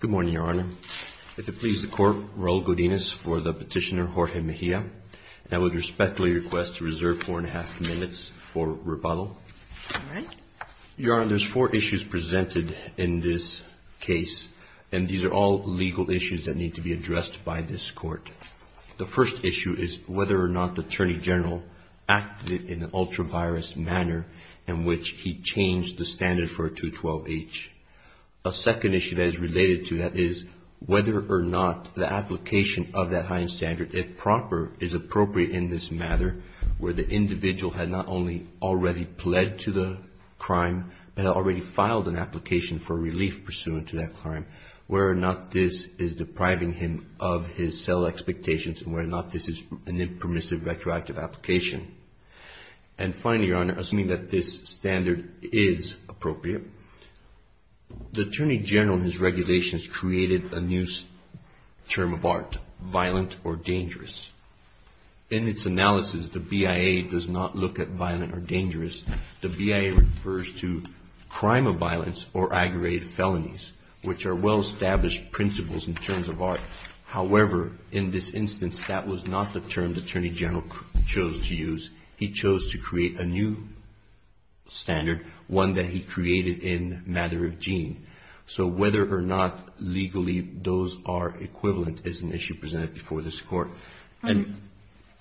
Good morning, Your Honor. If it pleases the Court, Roll Godinez for the petitioner Jorge Mejia, and I would respectfully request to reserve four and a half minutes for rebuttal. Your Honor, there are four issues presented in this case, and these are all legal issues that need to be addressed by this Court. The first issue is whether or not the Attorney General acted in an ultra-virus manner in which he changed the standard for a 212-H. A second issue that is related to that is whether or not the application of that high-end standard, if proper, is appropriate in this matter, where the individual had not only already pled to the crime, but had already filed an application for relief pursuant to that crime, where or not this is depriving him of his cell expectations, and where or not this is an impermissive retroactive application. And finally, Your Honor, assuming that this standard is appropriate, the Attorney General and his regulations created a new term of art, violent or dangerous. In its analysis, the BIA does not look at violent or dangerous. The BIA refers to crime of violence or aggravated felonies, which are well-established principles in terms of art. However, in this instance, that was not the term the Attorney General chose to use. He chose to create a new standard, one that he created in matter of gene. So whether or not legally those are equivalent is an issue presented before this Court. Sotomayor,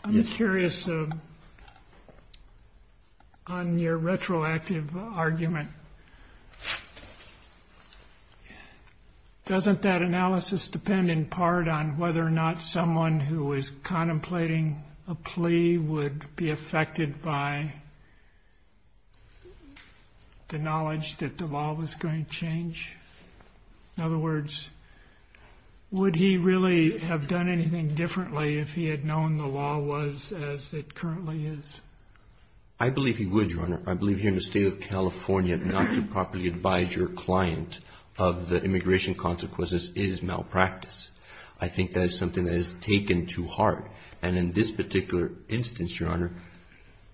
I'm curious on your retroactive argument. Doesn't that analysis depend in part on whether or not someone who was contemplating a plea would be affected by the knowledge that the law was going to change? In other words, would he really have done anything differently if he had known the law was as it currently is? I believe he would, Your Honor. I believe here in the State of California, not to properly advise your client of the immigration consequences is malpractice. I think that is something that is taken too hard. And in this particular instance, Your Honor,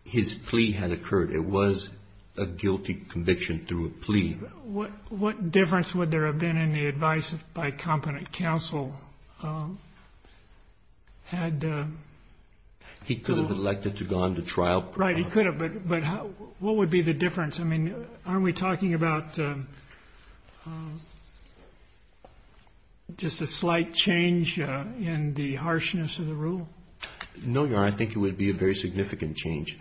his plea had occurred. It was a guilty conviction through a plea. What difference would there have been in the advice by competent counsel? He could have elected to go on to trial. Right. He could have. But what would be the difference? I mean, aren't we talking about just a slight change in the harshness of the rule? No, Your Honor. I think it would be a very significant change.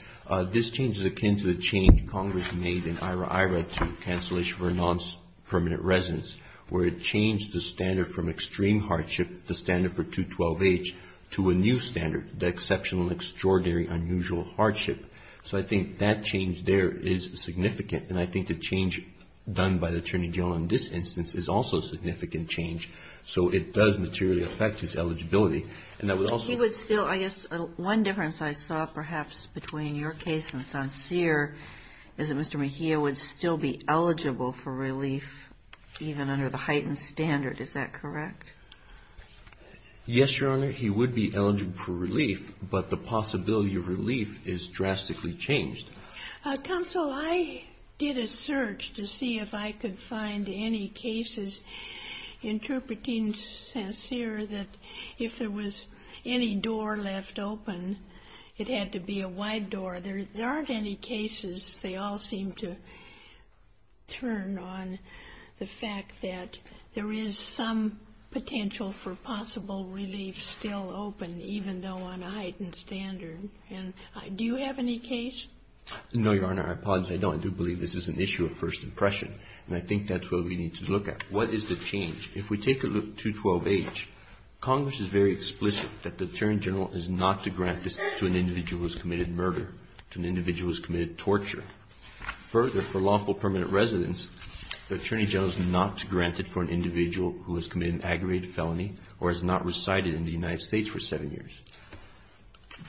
This change is akin to the change Congress made in IRA-IRA to cancellation for nonpermanent residence, where it changed the standard from extreme hardship, the standard for 212H, to a new standard, the exceptional and extraordinary unusual hardship. So I think that change there is significant. And I think the change done by the attorney general in this instance is also a significant change. So it does materially affect his eligibility. And that would also be the case. He would still, I guess, one difference I saw perhaps between your case and Sonsier is that Mr. Mejia would still be eligible for relief even under the heightened standard. Is that correct? Yes, Your Honor. He would be eligible for relief. But the possibility of relief is drastically changed. Counsel, I did a search to see if I could find any cases interpreting Sonsier that if there was any door left open, it had to be a wide door. There aren't any cases. They all seem to turn on the fact that there is some potential for possible relief still open, even though on a heightened standard. And do you have any case? No, Your Honor. I apologize. I don't. I do believe this is an issue of first impression. And I think that's what we need to look at. What is the change? If we take a look at 212H, Congress is very explicit that the attorney general is not to grant this to an individual who has committed murder, to an individual who has committed torture. Further, for lawful permanent residents, the attorney general is not to grant it for an individual who has committed an aggravated felony or has not resided in the United States for seven years.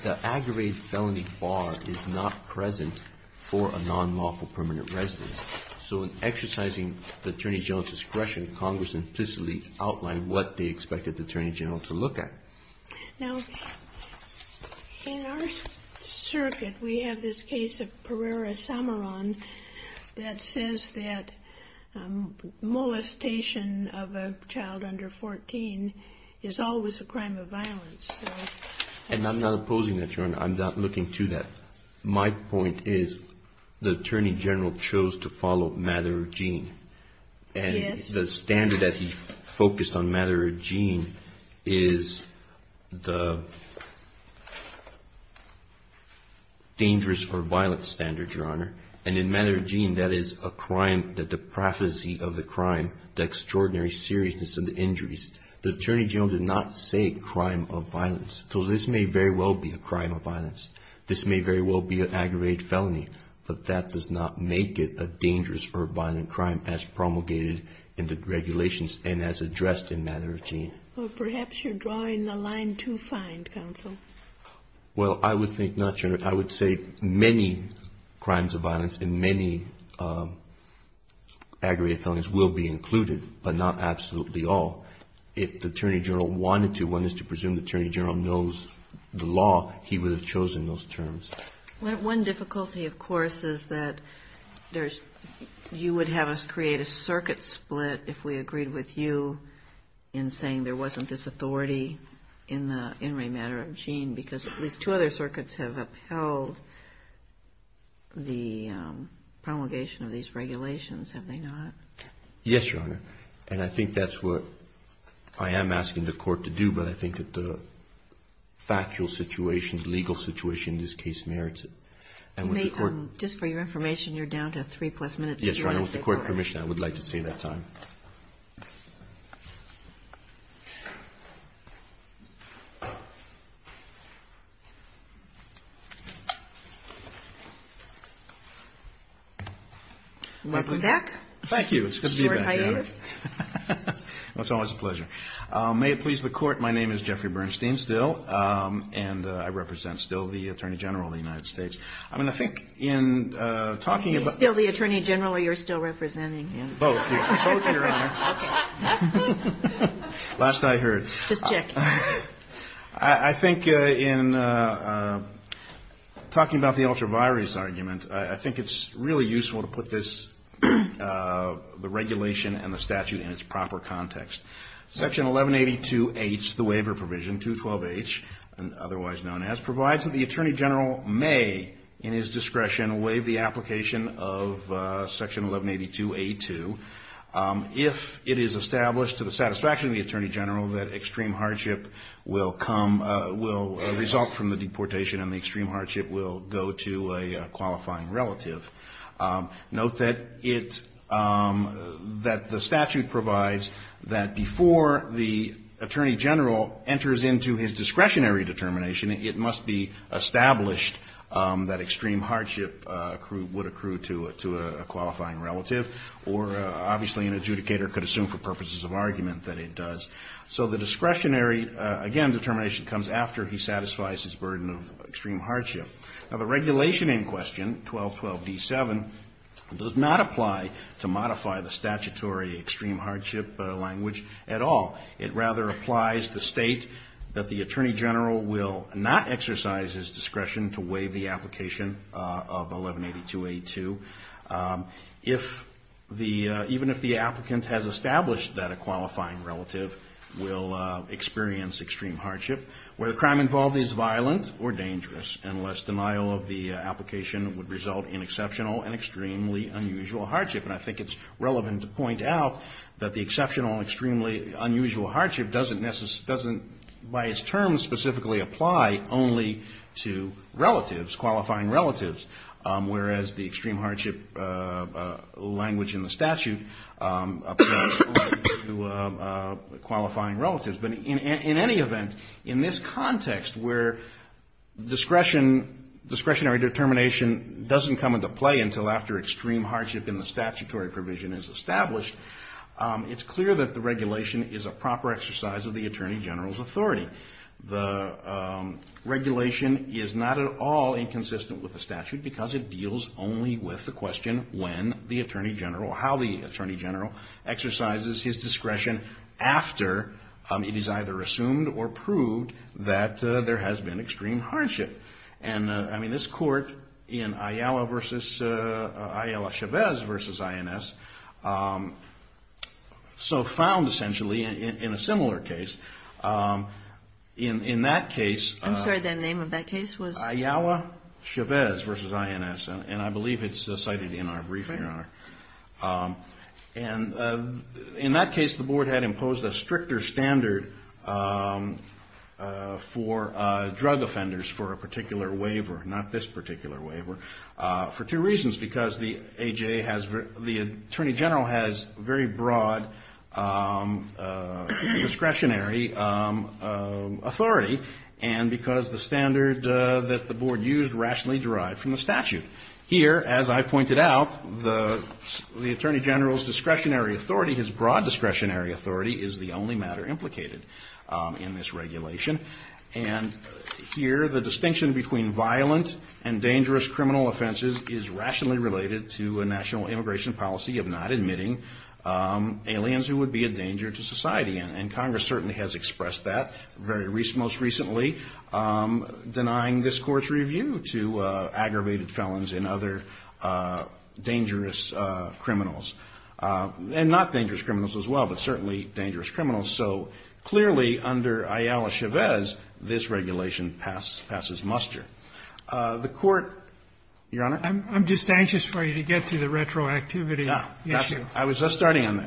The aggravated felony bar is not present for a non-lawful permanent resident. So in exercising the attorney general's discretion, Congress implicitly outlined what they expected the attorney general to look at. Now, in our circuit, we have this case of Pereira-Samaran that says that molestation of a child under 14 is always a crime of violence. And I'm not opposing that, Your Honor. I'm not looking to that. My point is the attorney general chose to follow Madera Jean. Yes. The standard that he focused on Madera Jean is the dangerous or violent standard, Your Honor. And in Madera Jean, that is a crime that the prophecy of the crime, the extraordinary seriousness of the injuries. The attorney general did not say crime of violence. So this may very well be a crime of violence. This may very well be an aggravated felony. But that does not make it a dangerous or violent crime as promulgated in the regulations and as addressed in Madera Jean. Well, perhaps you're drawing the line too fine, counsel. Well, I would think not, Your Honor. I would say many crimes of violence and many aggravated felonies will be included, but not absolutely all. If the attorney general wanted to, one is to presume the attorney general knows the law, he would have chosen those terms. One difficulty, of course, is that there's you would have us create a circuit split if we agreed with you in saying there wasn't this authority in Madera Jean because at least two other circuits have upheld the promulgation of these regulations, have they not? Yes, Your Honor. And I think that's what I am asking the court to do, but I think that the factual situation, legal situation in this case merits it. Just for your information, you're down to three plus minutes. Yes, Your Honor. With the court permission, I would like to save that time. Welcome back. Thank you. It's good to be back. It's always a pleasure. May it please the court, my name is Jeffrey Bernstein, still, and I represent still the attorney general of the United States. I mean, I think in talking about He's still the attorney general or you're still representing? Both. Both, Your Honor. Okay. Last I heard. Just checking. I think in talking about the ultra-virus argument, I think it's really useful to put this the regulation and the statute in its proper context. Section 1182H, the waiver provision, 212H, otherwise known as, provides that the attorney general may, in his discretion, waive the application of section 1182A2 if it is established to the satisfaction of the attorney general that extreme hardship will result from the deportation and the extreme hardship will go to a qualifying relative. Note that the statute provides that before the attorney general enters into his discretionary determination, it must be established that extreme hardship would accrue to a qualifying relative, or obviously an adjudicator could assume for purposes of argument that it does. So the discretionary, again, determination comes after he satisfies his burden of extreme hardship. Now, the regulation in question, 1212D7, does not apply to modify the statutory extreme hardship language at all. It rather applies to state that the attorney general will not exercise his discretion to waive the application of 1182A2 even if the applicant has established that a qualifying relative will experience extreme hardship, where the crime involved is violent or dangerous, unless denial of the application would result in exceptional and extremely unusual hardship. And I think it's relevant to point out that the exceptional and extremely unusual hardship doesn't by its terms specifically apply only to relatives, qualifying relatives, whereas the extreme hardship language in the statute applies to qualifying relatives. But in any event, in this context where discretionary determination doesn't come into play until after extreme hardship in the statutory provision is established, it's clear that the regulation is a proper exercise of the attorney general's authority. The regulation is not at all inconsistent with the statute because it deals only with the question when the attorney general, how the attorney general exercises his discretion after it is either assumed or proved that there has been extreme hardship. And, I mean, this court in Ayala versus, Ayala-Chavez versus INS, so found essentially in a similar case. In that case... I'm sorry, the name of that case was... Ayala-Chavez versus INS, and I believe it's cited in our brief, Your Honor. And in that case, the board had imposed a stricter standard for drug offenders for a particular waiver, not this particular waiver, for two reasons, because the AJ has... the attorney general has very broad discretionary authority, and because the standard that the board used rationally derived from the statute. Here, as I pointed out, the attorney general's discretionary authority, his broad discretionary authority, is the only matter implicated in this regulation. And here, the distinction between violent and dangerous criminal offenses is rationally related to a national immigration policy of not admitting aliens who would be a danger to society. And Congress certainly has expressed that, very recently, most recently, denying this Court's review to aggravated felons and other dangerous criminals. And not dangerous criminals as well, but certainly dangerous criminals. So clearly, under Ayala-Chavez, this regulation passes muster. The Court... Your Honor? I'm just anxious for you to get to the retroactivity issue. I was just starting on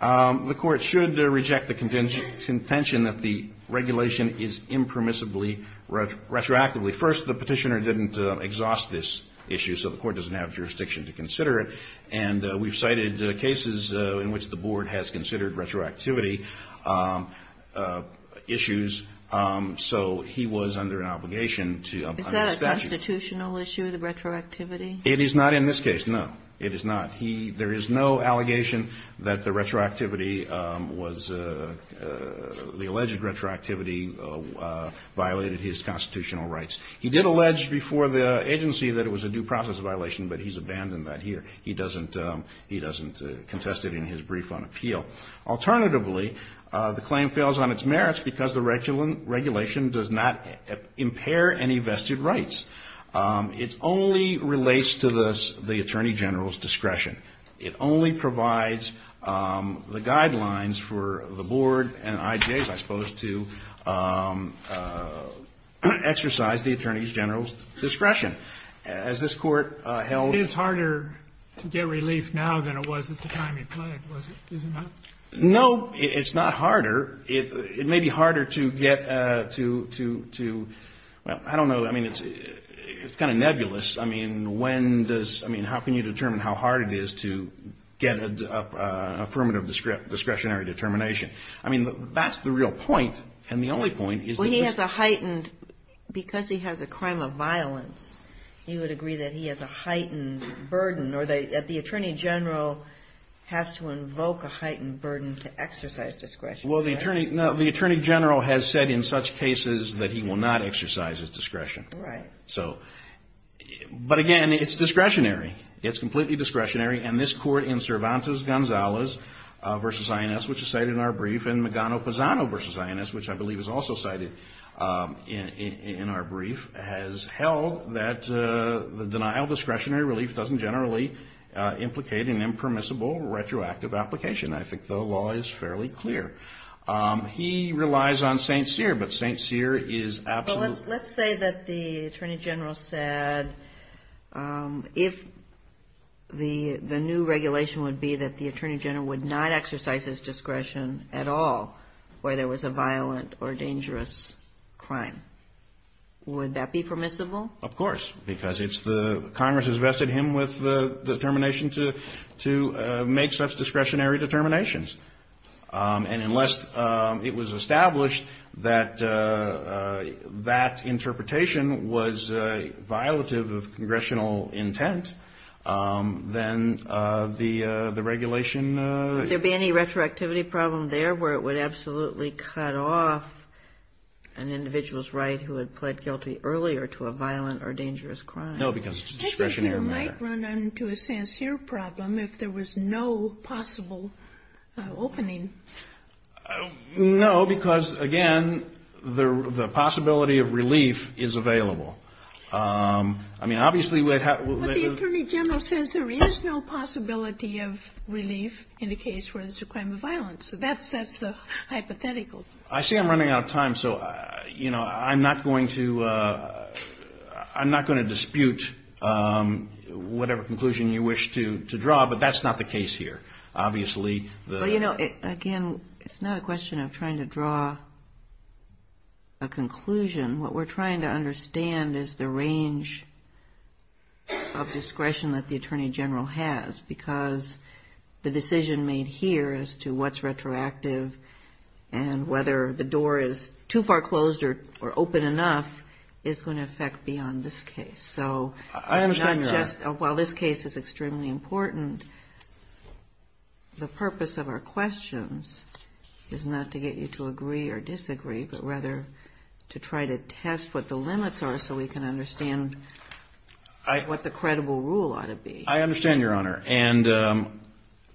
that. The Court should reject the contention that the regulation is impermissibly retroactively. First, the Petitioner didn't exhaust this issue, so the Court doesn't have jurisdiction to consider it. And we've cited cases in which the board has considered retroactivity issues, so he was under an obligation to... Is that a constitutional issue, the retroactivity? It is not in this case, no. It is not. There is no allegation that the retroactivity was... The alleged retroactivity violated his constitutional rights. He did allege before the agency that it was a due process violation, but he's abandoned that here. He doesn't contest it in his brief on appeal. Alternatively, the claim fails on its merits because the regulation does not impair any vested rights. It only relates to the Attorney General's discretion. It only provides the guidelines for the board and IGAs, I suppose, to exercise the Attorney General's discretion. As this Court held... It is harder to get relief now than it was at the time he pledged, is it not? No, it's not harder. It may be harder to get to... I don't know. I mean, it's kind of nebulous. I mean, when does... I mean, how can you determine how hard it is to get an affirmative discretionary determination? I mean, that's the real point, and the only point is... Well, he has a heightened... Because he has a crime of violence, you would agree that he has a heightened burden or that the Attorney General has to invoke a heightened burden to get relief. No, the Attorney General has said in such cases that he will not exercise his discretion. Right. But again, it's discretionary. It's completely discretionary, and this Court in Cervantes-Gonzalez v. INS, which is cited in our brief, and Magano-Pazano v. INS, which I believe is also cited in our brief, has held that the denial of discretionary relief doesn't generally implicate an impermissible retroactive application. I think the law is fairly clear. He relies on St. Cyr, but St. Cyr is absolutely... Well, let's say that the Attorney General said if the new regulation would be that the Attorney General would not exercise his discretion at all where there was a violent or dangerous crime. Would that be permissible? Of course, because Congress has vested him with the determination to make such discretionary determinations. And unless it was established that that interpretation was violative of congressional intent, then the regulation... Would there be any retroactivity problem there where it would absolutely cut off an individual's right who had pled guilty earlier to a violent or dangerous crime? No, because it's a discretionary matter. Well, wouldn't that run into a St. Cyr problem if there was no possible opening? No, because, again, the possibility of relief is available. I mean, obviously... But the Attorney General says there is no possibility of relief in a case where there's a crime of violence. That's the hypothetical. I see I'm running out of time. So, you know, I'm not going to dispute whatever conclusion you wish to draw, but that's not the case here, obviously. Well, you know, again, it's not a question of trying to draw a conclusion. What we're trying to understand is the range of discretion that the Attorney General has because the decision made here as to what's retroactive and whether the door is too far closed or open enough is going to affect beyond this case. So it's not just... I understand, Your Honor. While this case is extremely important, the purpose of our questions is not to get you to agree or disagree, but rather to try to test what the limits are so we can understand what the credible rule ought to be. I understand, Your Honor. And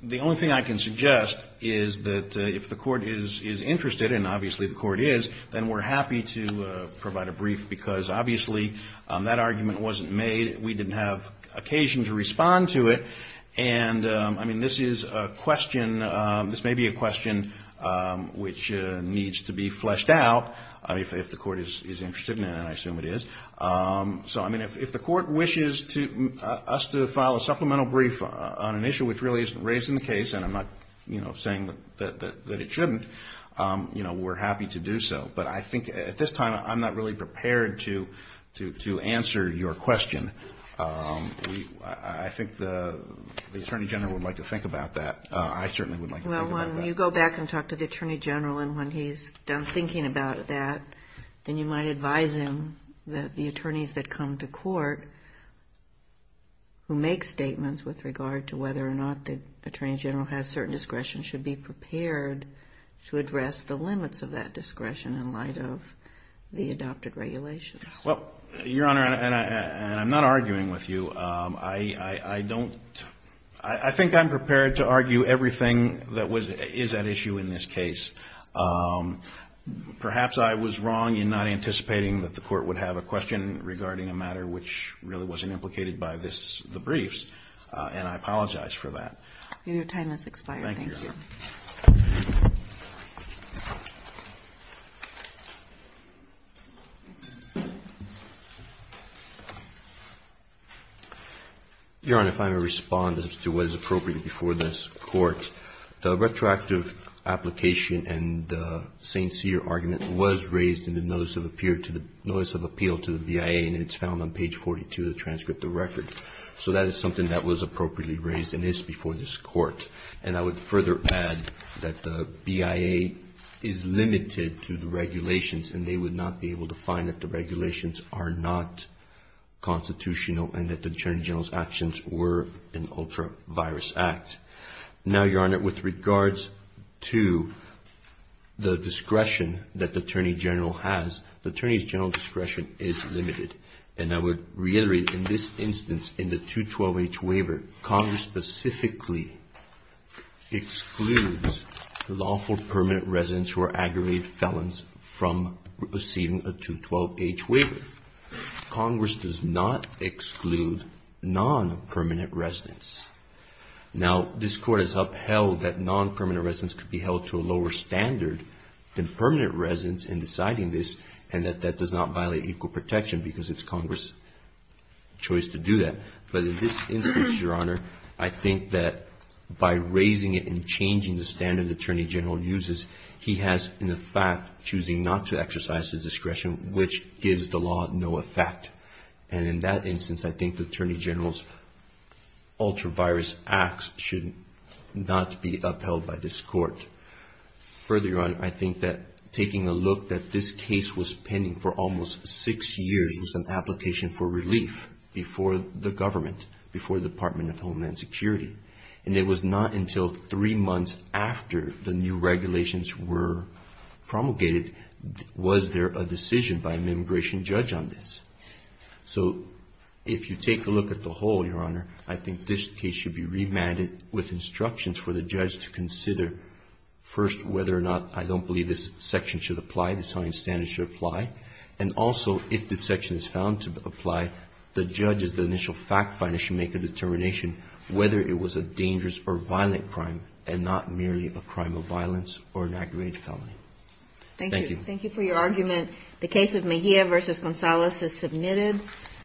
the only thing I can suggest is that if the court is interested, and obviously the court is, then we're happy to provide a brief because obviously that argument wasn't made. We didn't have occasion to respond to it. And, I mean, this is a question... This may be a question which needs to be fleshed out if the court is interested in it, and I assume it is. So, I mean, if the court wishes us to file a supplemental brief on an issue which really isn't raised in the case, and I'm not, you know, saying that it shouldn't, you know, we're happy to do so. But I think at this time I'm not really prepared to answer your question. I think the Attorney General would like to think about that. I certainly would like to think about that. Well, when you go back and talk to the Attorney General and when he's done thinking about that, then you might advise him that the attorneys that come to court who make statements with regard to whether or not the Attorney General has certain discretion should be prepared to address the limits of that discretion in light of the adopted regulations. Well, Your Honor, and I'm not arguing with you, I don't... I think I'm prepared to argue everything that is at issue in this case. Perhaps I was wrong in not anticipating that the court would have a question regarding a matter which really wasn't implicated by this, the briefs, and I apologize for that. Your time has expired. Thank you. Thank you, Your Honor. Your Honor, if I may respond as to what is appropriate before this Court. The retroactive application and the St. Cyr argument was raised in the Notice of Appeal to the BIA and it's found on page 42 of the transcript of the record. So that is something that was appropriately raised and is before this Court. And I would further add that the BIA is limited to the regulations and they would not be able to find that the regulations are not constitutional and that the Attorney General's actions were an ultra-virus act. Now, Your Honor, with regards to the discretion that the Attorney General has, the Attorney General's discretion is limited. And I would reiterate in this instance in the 212H waiver, Congress specifically excludes the lawful permanent residents who are aggravated felons from receiving a 212H waiver. Congress does not exclude non-permanent residents. Now, this Court has upheld that non-permanent residents could be held to a lower standard than permanent residents in deciding this and that that does not violate equal protection because it's Congress' choice to do that. But in this instance, Your Honor, I think that by raising it and changing the standard the Attorney General uses, he has, in effect, choosing not to exercise the discretion which gives the law no effect. And in that instance, I think the Attorney General's ultra-virus acts should not be upheld by this Court. Further, Your Honor, I think that taking a look that this case was pending for almost six years with an application for relief before the government, before the Department of Homeland Security, and it was not until three months after the new regulations were promulgated was there a decision by an immigration judge on this. So if you take a look at the whole, Your Honor, I think this case should be remanded with instructions for the judge to consider, first, whether or not I don't believe this section should apply, this hunting standard should apply, and also if this section is found to apply, the judge as the initial fact finder should make a determination whether it was a dangerous or violent crime and not merely a crime of violence or an aggravated felony. Thank you. Thank you. Thank you for your argument. The case of Mejia v. Gonzalez is submitted.